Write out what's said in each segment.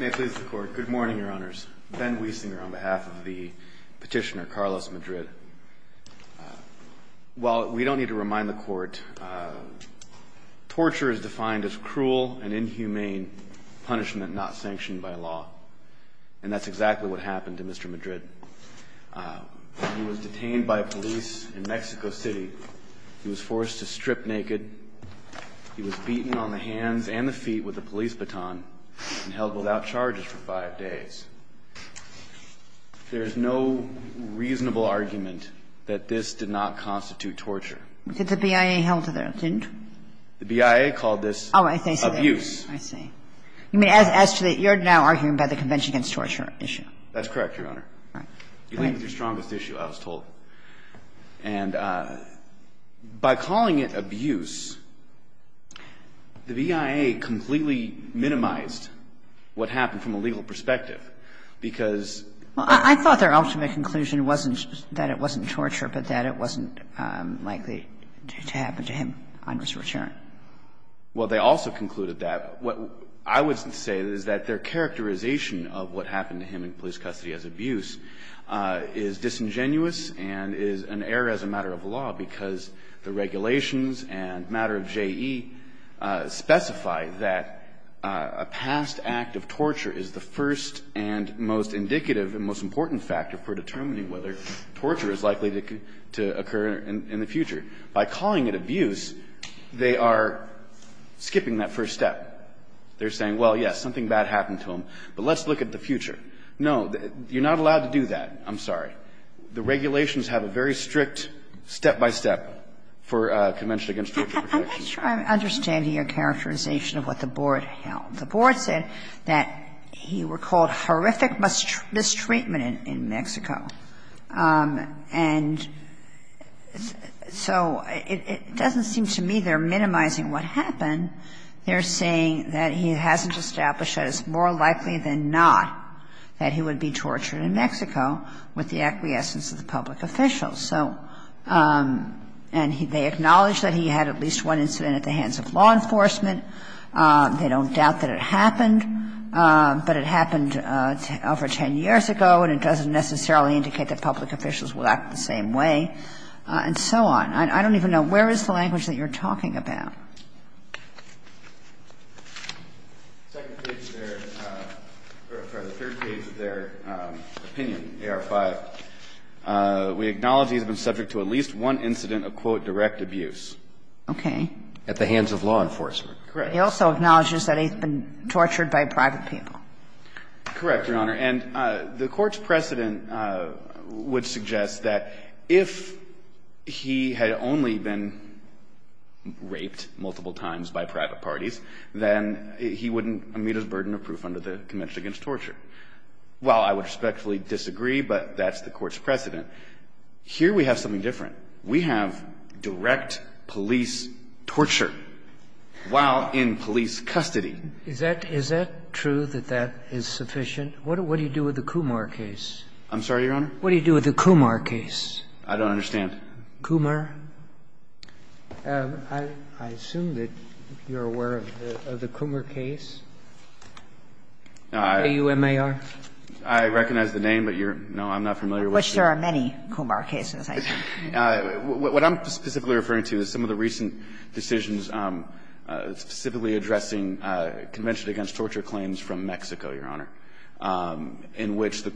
May it please the Court. Good morning, Your Honors. Ben Wiesinger on behalf of the petitioner, Carlos Madrid. While we don't need to remind the Court, torture is defined as cruel and inhumane punishment not sanctioned by law. And that's exactly what happened to Mr. Madrid. He was detained by police in Mexico City. He was forced to strip naked. He was beaten on the hands and the feet with a police baton and held without charges for 5 days. There is no reasonable argument that this did not constitute torture. Did the BIA hold to that? It didn't? The BIA called this abuse. Oh, I see. I see. You're now arguing about the Convention Against Torture issue. That's correct, Your Honor. All right. It was the strongest issue, I was told. And by calling it abuse, the BIA completely minimized what happened from a legal perspective, because they concluded that it wasn't torture, but that it wasn't likely to happen to him on his return. Well, they also concluded that. What I would say is that their characterization of what happened to him in police custody as abuse is disingenuous and is an error as a matter of law, because the regulations and matter of JE specify that a past act of torture is the first and most indicative and most important factor for determining whether torture is likely to occur in the future. By calling it abuse, they are skipping that first step. They're saying, well, yes, something bad happened to him, but let's look at the future. No, you're not allowed to do that. I'm sorry. The regulations have a very strict step-by-step for Convention Against Torture protections. I'm not sure I'm understanding your characterization of what the Board held. The Board said that he recalled horrific mistreatment in Mexico. And so it doesn't seem to me they're minimizing what happened. They're saying that he hasn't established that it's more likely than not that he would be tortured in Mexico with the acquiescence of the public officials. So they acknowledge that he had at least one incident at the hands of law enforcement. They don't doubt that it happened, but it happened over 10 years ago, and it doesn't necessarily indicate that public officials will act the same way, and so on. I don't even know where is the language that you're talking about. The second page of their or the third page of their opinion, AR-5, we acknowledge he's been subject to at least one incident of, quote, direct abuse. Okay. At the hands of law enforcement. Correct. He also acknowledges that he's been tortured by private people. Correct, Your Honor. And the Court's precedent would suggest that if he had only been raped, if he had been raped multiple times by private parties, then he wouldn't meet his burden of proof under the Convention Against Torture. While I would respectfully disagree, but that's the Court's precedent, here we have something different. We have direct police torture while in police custody. Is that true, that that is sufficient? What do you do with the Kumar case? I'm sorry, Your Honor? What do you do with the Kumar case? I don't understand. Kumar? I assume that you're aware of the Kumar case? A-U-M-A-R? I recognize the name, but you're no, I'm not familiar with it. Of which there are many Kumar cases, I assume. What I'm specifically referring to is some of the recent decisions specifically addressing Convention Against Torture claims from Mexico, Your Honor, in which the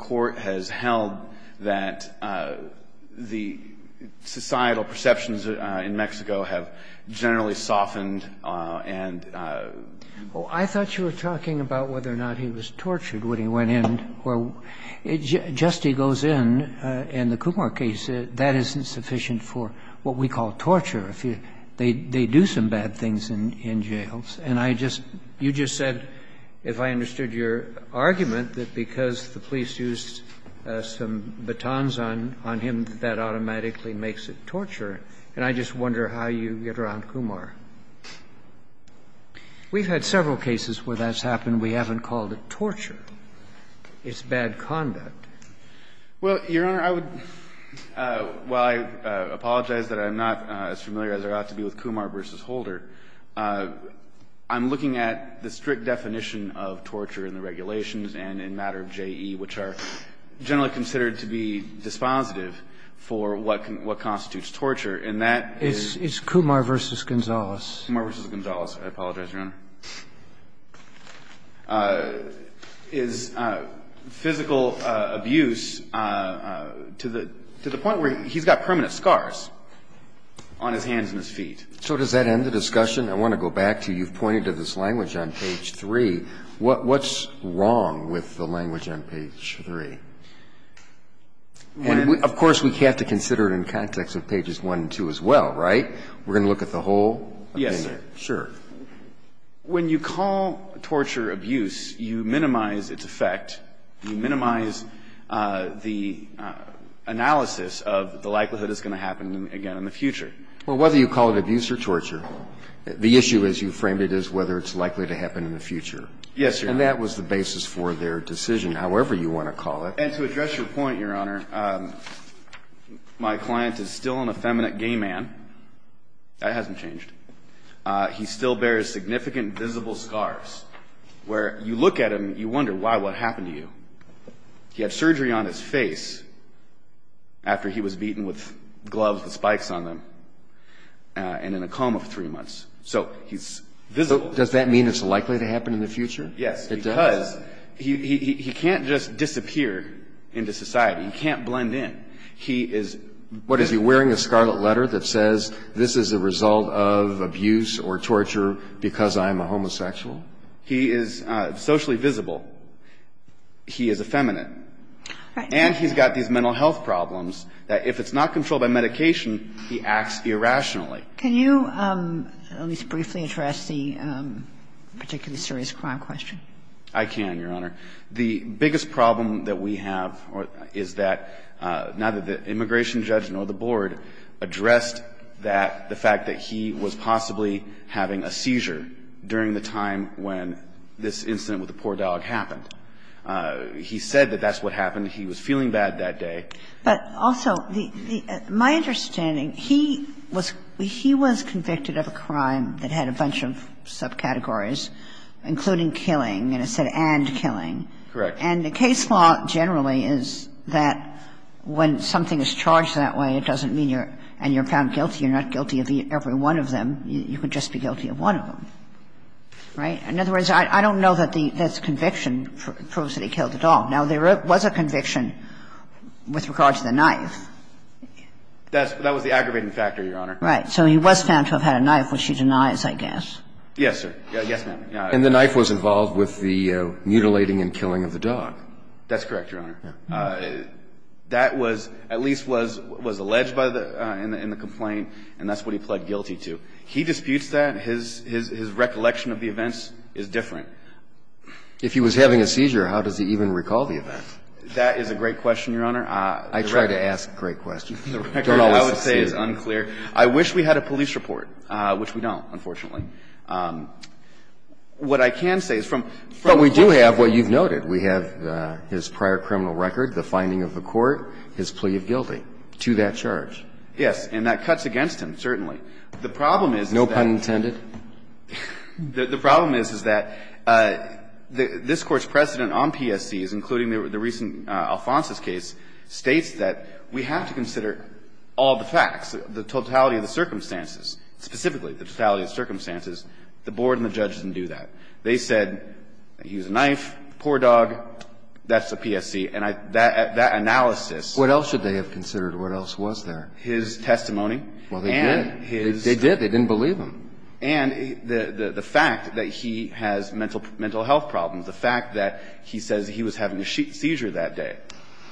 perceptions in Mexico have generally softened and you know, I don't know if that's true. I thought you were talking about whether or not he was tortured when he went in. Just as he goes in, in the Kumar case, that isn't sufficient for what we call torture. They do some bad things in jails. And I just, you just said, if I understood your argument, that because the police used some batons on him, that that automatically makes it torture. And I just wonder how you get around Kumar. We've had several cases where that's happened. We haven't called it torture. It's bad conduct. Well, Your Honor, I would, while I apologize that I'm not as familiar as there ought to be with Kumar v. Holder, I'm looking at the strict definition of torture in the case of Holder, generally considered to be dispositive for what constitutes torture. And that is Kumar v. Gonzalez. Kumar v. Gonzalez. I apologize, Your Honor. Is physical abuse to the point where he's got permanent scars on his hands and his feet. So does that end the discussion? I want to go back to you've pointed to this language on page 3. What's wrong with the language on page 3? And, of course, we have to consider it in context of pages 1 and 2 as well, right? We're going to look at the whole opinion. Yes, sure. When you call torture abuse, you minimize its effect. You minimize the analysis of the likelihood it's going to happen again in the future. Well, whether you call it abuse or torture, the issue, as you framed it, is whether it's likely to happen in the future. Yes, Your Honor. And that was the basis for their decision, however you want to call it. And to address your point, Your Honor, my client is still an effeminate gay man. That hasn't changed. He still bears significant visible scars where you look at him, you wonder why, what happened to you? He had surgery on his face after he was beaten with gloves with spikes on them and in a coma for three months. So he's visible. Does that mean it's likely to happen in the future? Yes, it does. Because he can't just disappear into society. He can't blend in. He is what is he wearing a scarlet letter that says this is a result of abuse or torture because I'm a homosexual? He is socially visible. He is effeminate. And he's got these mental health problems that if it's not controlled by medication, he acts irrationally. Can you at least briefly address the particularly serious crime question? I can, Your Honor. The biggest problem that we have is that neither the immigration judge nor the board addressed that, the fact that he was possibly having a seizure during the time when this incident with the poor dog happened. He said that that's what happened. He was feeling bad that day. But also, my understanding, he was convicted of a crime that had a bunch of subcategories, including killing, and it said and killing. Correct. And the case law generally is that when something is charged that way, it doesn't mean you're found guilty. You're not guilty of every one of them. You could just be guilty of one of them, right? In other words, I don't know that the conviction proves that he killed the dog. Now, there was a conviction with regard to the knife. That was the aggravating factor, Your Honor. Right. So he was found to have had a knife, which he denies, I guess. Yes, sir. Yes, ma'am. And the knife was involved with the mutilating and killing of the dog. That's correct, Your Honor. That was at least was alleged by the – in the complaint, and that's what he pled guilty to. He disputes that. His recollection of the events is different. If he was having a seizure, how does he even recall the events? That is a great question, Your Honor. I try to ask great questions. The record, I would say, is unclear. I wish we had a police report, which we don't, unfortunately. What I can say is from the point of view of the court. But we do have what you've noted. We have his prior criminal record, the finding of the court, his plea of guilty to that charge. Yes. And that cuts against him, certainly. The problem is that – No pun intended? The problem is, is that this Court's precedent on PSCs, including the recent Alfonso's case, states that we have to consider all the facts, the totality of the circumstances, specifically the totality of the circumstances. The board and the judges didn't do that. They said he was a knife, poor dog, that's a PSC. And that analysis – What else should they have considered? What else was there? His testimony. Well, they did. And his – They did. They didn't believe him. And the fact that he has mental health problems, the fact that he says he was having a seizure that day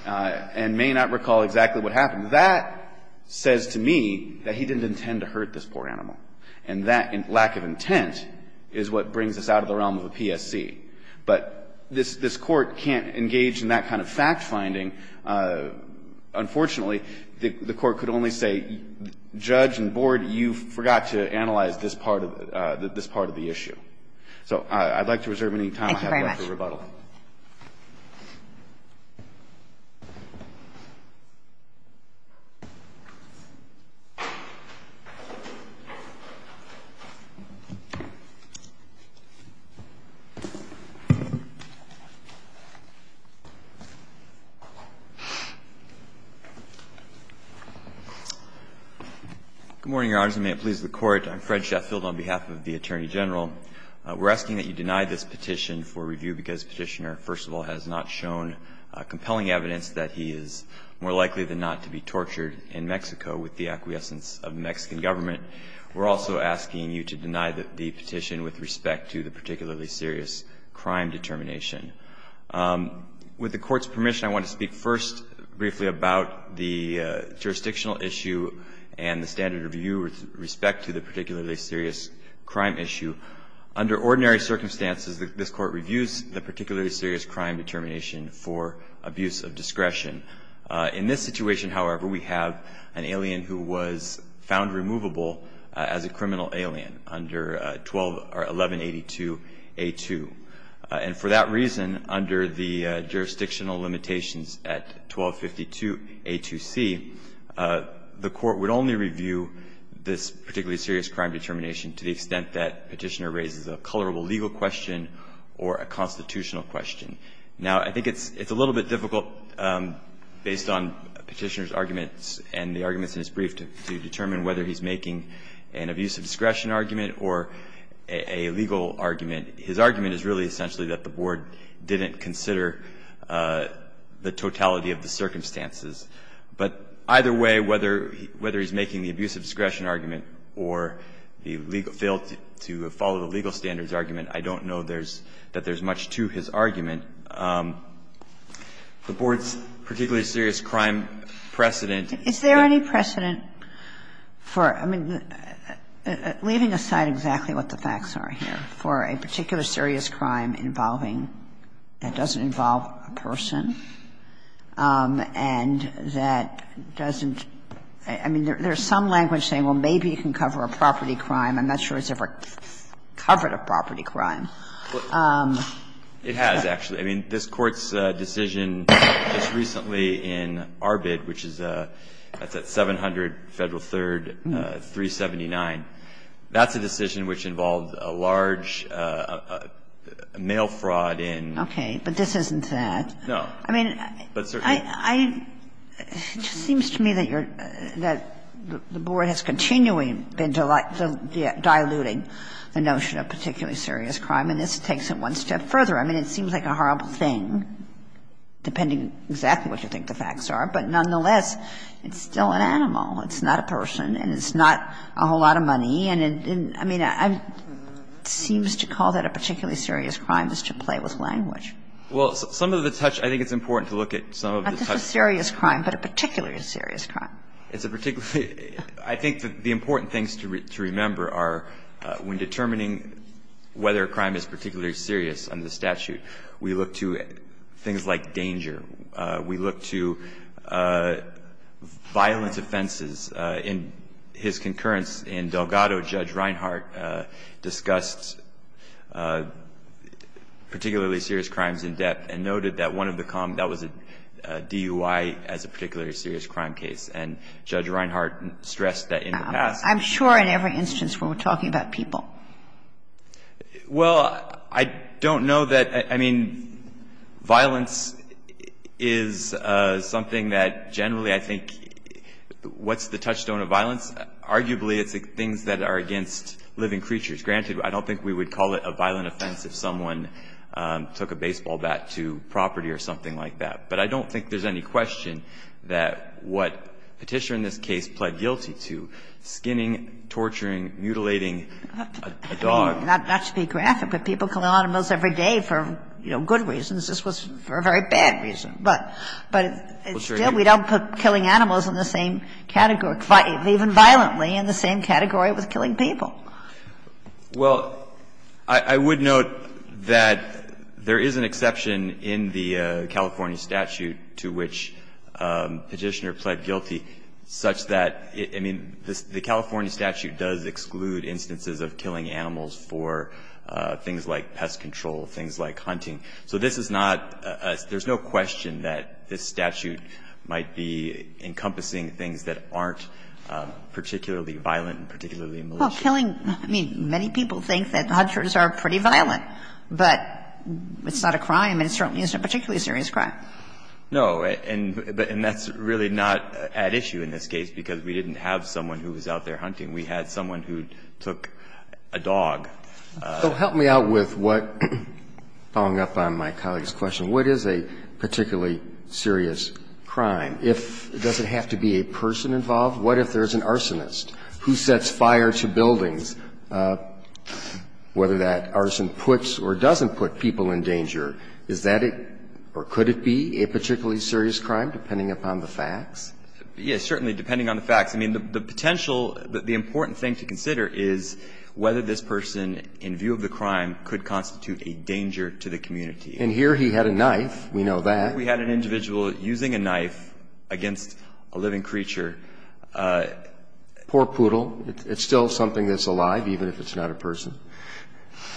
and may not recall exactly what happened, that says to me that he didn't intend to hurt this poor animal. And that lack of intent is what brings us out of the realm of a PSC. But this Court can't engage in that kind of fact-finding. Unfortunately, the Court could only say, Judge and board, you forgot to analyze this part of the issue. So I'd like to reserve any time I have left for rebuttal. Thank you very much. Good morning, Your Honors, and may it please the Court. I'm Fred Sheffield on behalf of the Attorney General. We're asking that you deny this petition for review because Petitioner, first of all, has not shown compelling evidence that he is more likely than not to be tortured in Mexico with the acquiescence of the Mexican government. We're also asking you to deny the petition with respect to the particularly serious crime determination. With the Court's permission, I want to speak first briefly about the jurisdictional issue and the standard of view with respect to the particularly serious crime issue. Under ordinary circumstances, this Court reviews the particularly serious crime determination for abuse of discretion. In this situation, however, we have an alien who was found removable as a criminal alien under 1182a2. And for that reason, under the jurisdictional limitations at 1252a2c, the court would only review this particularly serious crime determination to the extent that Petitioner raises a colorable legal question or a constitutional question. Now, I think it's a little bit difficult, based on Petitioner's arguments and the arguments in his brief, to determine whether he's making an abuse of discretion argument or a legal argument. His argument is really essentially that the Board didn't consider the totality of the circumstances. But either way, whether he's making the abuse of discretion argument or the legal – failed to follow the legal standards argument, I don't know there's – that there's much to his argument. The Board's particularly serious crime precedent – Is there any precedent for – I mean, leaving aside exactly what the facts are here – for a particularly serious crime involving – that doesn't involve a person and that doesn't – I mean, there's some language saying, well, maybe you can cover a property crime. I'm not sure it's ever covered a property crime. It has, actually. I mean, this Court's decision just recently in Arbid, which is at 700 Federal 3rd 379. That's a decision which involved a large mail fraud in – Okay. But this isn't that. No. I mean, I – it just seems to me that you're – that the Board has continually been diluting the notion of particularly serious crime, and this takes it one step further. I mean, it seems like a horrible thing, depending exactly what you think the facts are, but nonetheless, it's still an animal. It's not a person, and it's not a whole lot of money, and it – I mean, it seems to call that a particularly serious crime is to play with language. Well, some of the touch – I think it's important to look at some of the touch. Not just a serious crime, but a particularly serious crime. It's a particularly – I think that the important things to remember are when determining whether a crime is particularly serious under the statute, we look to things like danger. We look to violent offenses. In his concurrence in Delgado, Judge Reinhart discussed particularly serious crimes in depth and noted that one of the – that was a DUI as a particularly serious crime case, and Judge Reinhart stressed that in the past. I'm sure in every instance we were talking about people. Well, I don't know that – I mean, violence is something that generally I think – what's the touchstone of violence? Arguably, it's things that are against living creatures. Granted, I don't think we would call it a violent offense if someone took a baseball bat to property or something like that. But I don't think there's any question that what Petitia in this case pled guilty to, skinning, torturing, mutilating a dog. I mean, not to be graphic, but people killing animals every day for, you know, good reasons. This was for a very bad reason. But it's still – we don't put killing animals in the same category – even violently in the same category with killing people. Well, I would note that there is an exception in the California statute to which Petitia pled guilty such that – I mean, the California statute does exclude instances of killing animals for things like pest control, things like hunting. So this is not – there's no question that this statute might be encompassing things that aren't particularly violent and particularly malicious. Well, killing – I mean, many people think that hunters are pretty violent. But it's not a crime, and it certainly isn't a particularly serious crime. No, and that's really not at issue in this case because we didn't have someone who was out there hunting. We had someone who took a dog. So help me out with what – following up on my colleague's question. What is a particularly serious crime? If – does it have to be a person involved? What if there's an arsonist? Who sets fire to buildings? Whether that arson puts or doesn't put people in danger, is that a – or could it be a particularly serious crime, depending upon the facts? Yes, certainly, depending on the facts. I mean, the potential – the important thing to consider is whether this person in view of the crime could constitute a danger to the community. And here he had a knife. We know that. Here we had an individual using a knife against a living creature. Poor poodle. It's still something that's alive, even if it's not a person.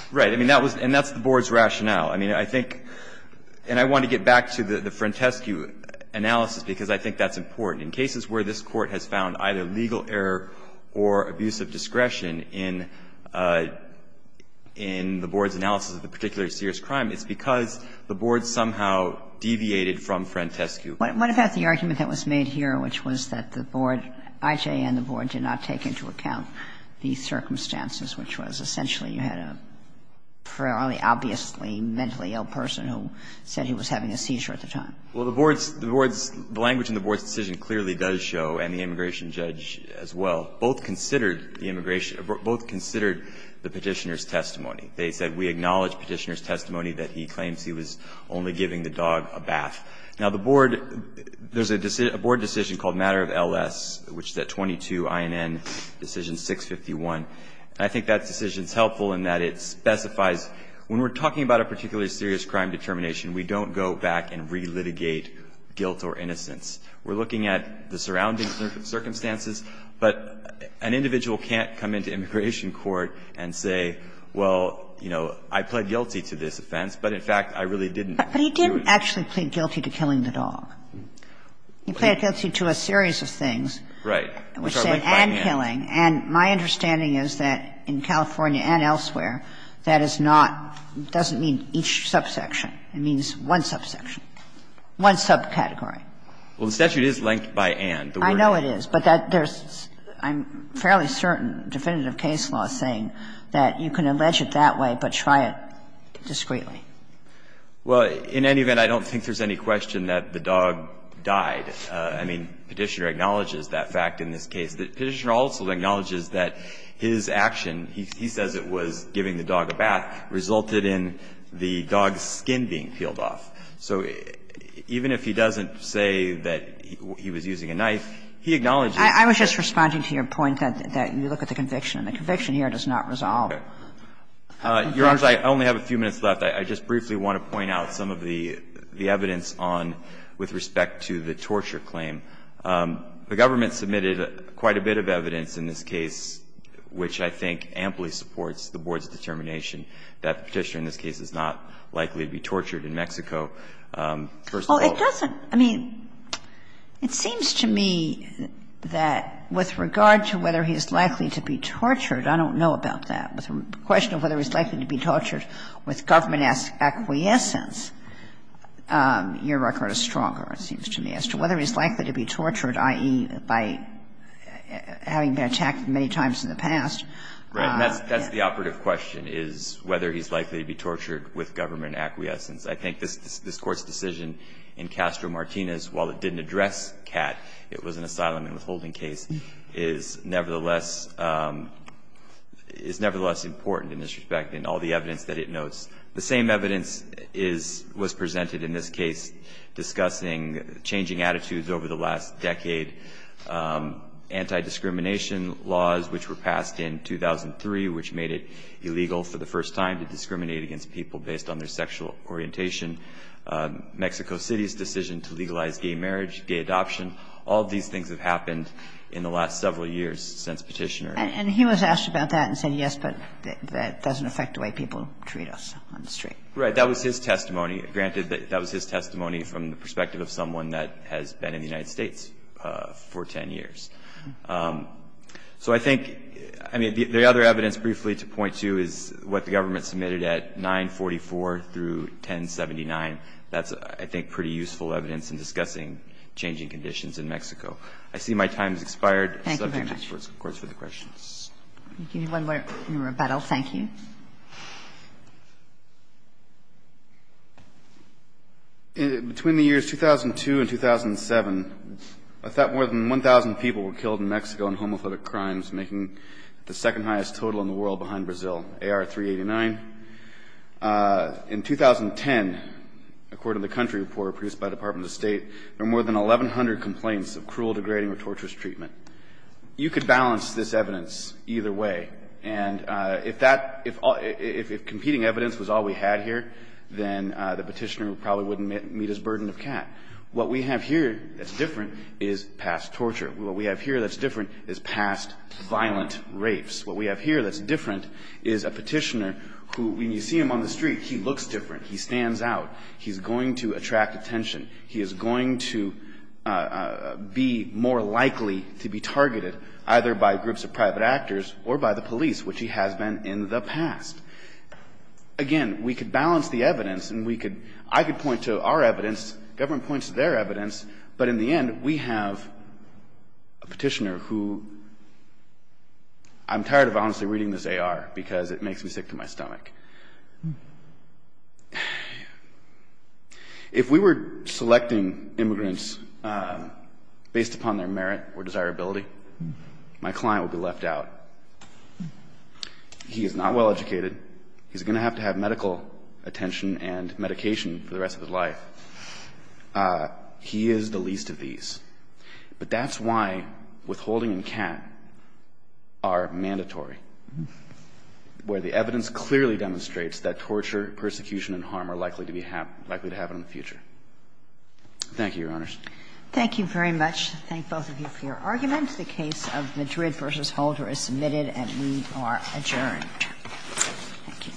Right. I mean, that was – and that's the board's rationale. I mean, I think – and I want to get back to the Frentescu analysis because I think that's important. In cases where this Court has found either legal error or abuse of discretion in the board's analysis of the particularly serious crime, it's because the board somehow deviated from Frentescu. What about the argument that was made here, which was that the board – IJ and the board did not take into account the circumstances, which was essentially you had a fairly obviously mentally ill person who said he was having a seizure at the time. Well, the board's – the language in the board's decision clearly does show, and the immigration judge as well, both considered the immigration – both considered the Petitioner's testimony. They said, we acknowledge Petitioner's testimony that he claims he was only giving the dog a bath. Now, the board – there's a board decision called Matter of LS, which is at 22 INN decision 651. And I think that decision is helpful in that it specifies when we're talking about a particularly serious crime determination, we don't go back and relitigate guilt or innocence. We're looking at the surrounding circumstances, but an individual can't come into immigration court and say, well, you know, I pled guilty to this offense, but in fact, I really didn't do it. But he didn't actually plead guilty to killing the dog. He pled guilty to a series of things. Right. Which are linked by Ann. And killing. And my understanding is that in California and elsewhere, that is not – doesn't mean each subsection. It means one subsection, one subcategory. Well, the statute is linked by Ann. I know it is, but that there's – I'm fairly certain definitive case law is saying that you can allege it that way but try it discreetly. Well, in any event, I don't think there's any question that the dog died. I mean, Petitioner acknowledges that fact in this case. Petitioner also acknowledges that his action, he says it was giving the dog a bath, resulted in the dog's skin being peeled off. So even if he doesn't say that he was using a knife, he acknowledges that the dog was killed. I was just responding to your point that you look at the conviction, and the conviction here does not resolve. Okay. Your Honor, I only have a few minutes left. I just briefly want to point out some of the evidence on – with respect to the torture claim. The government submitted quite a bit of evidence in this case which I think amply supports the Board's determination that Petitioner in this case is not likely to be tortured in Mexico. First of all – Well, it doesn't – I mean, it seems to me that with regard to whether he's likely to be tortured, I don't know about that. The question of whether he's likely to be tortured with government acquiescence, your record is stronger, it seems to me, as to whether he's likely to be tortured, i.e., by having been attacked many times in the past. Right. And that's the operative question, is whether he's likely to be tortured with government acquiescence. I think this Court's decision in Castro-Martinez, while it didn't address Cat, it was an asylum and withholding case, is nevertheless – is nevertheless important in this respect in all the evidence that it notes. The same evidence is – was presented in this case discussing changing attitudes over the last decade, anti-discrimination laws which were passed in 2003 which made it illegal for the first time to discriminate against people based on their sexual orientation, Mexico City's decision to legalize gay marriage, gay adoption. All of these things have happened in the last several years since Petitioner. And he was asked about that and said, yes, but that doesn't affect the way people treat us on the street. Right. That was his testimony. Granted, that was his testimony from the perspective of someone that has been in the United States for 10 years. So I think – I mean, the other evidence briefly to point to is what the government submitted at 944 through 1079. That's, I think, pretty useful evidence in discussing changing conditions in Mexico. I see my time has expired. Thank you very much. The subject is, of course, for the questions. We'll give you one more rebuttal. Thank you. Between the years 2002 and 2007, I thought more than 1,000 people were killed in Mexico in homophobic crimes, making it the second-highest total in the world behind Brazil. AR-389. In 2010, according to the country report produced by the Department of State, there were more than 1,100 complaints of cruel, degrading, or torturous treatment. You could balance this evidence either way. And if that – if competing evidence was all we had here, then the Petitioner probably wouldn't meet his burden of cat. What we have here that's different is past torture. What we have here that's different is past violent rapes. What we have here that's different is a Petitioner who, when you see him on the street, he looks different. He stands out. He's going to attract attention. He is going to be more likely to be targeted either by groups of private actors or by the police, which he has been in the past. Again, we could balance the evidence, and we could – I could point to our evidence, the government points to their evidence, but in the end, we have a Petitioner who – I'm tired of honestly reading this AR because it makes me sick to my stomach. If we were selecting immigrants based upon their merit or desirability, my client would be left out. He is not well-educated. He's going to have to have medical attention and medication for the rest of his life. He is the least of these. But that's why withholding and CAT are mandatory, where the evidence clearly demonstrates that torture, persecution, and harm are likely to be – likely to happen in the future. Thank you, Your Honors. Thank you very much. I thank both of you for your arguments. The case of Madrid v. Holder is submitted, and we are adjourned. Thank you. All rise. Court is adjourned. Thank you.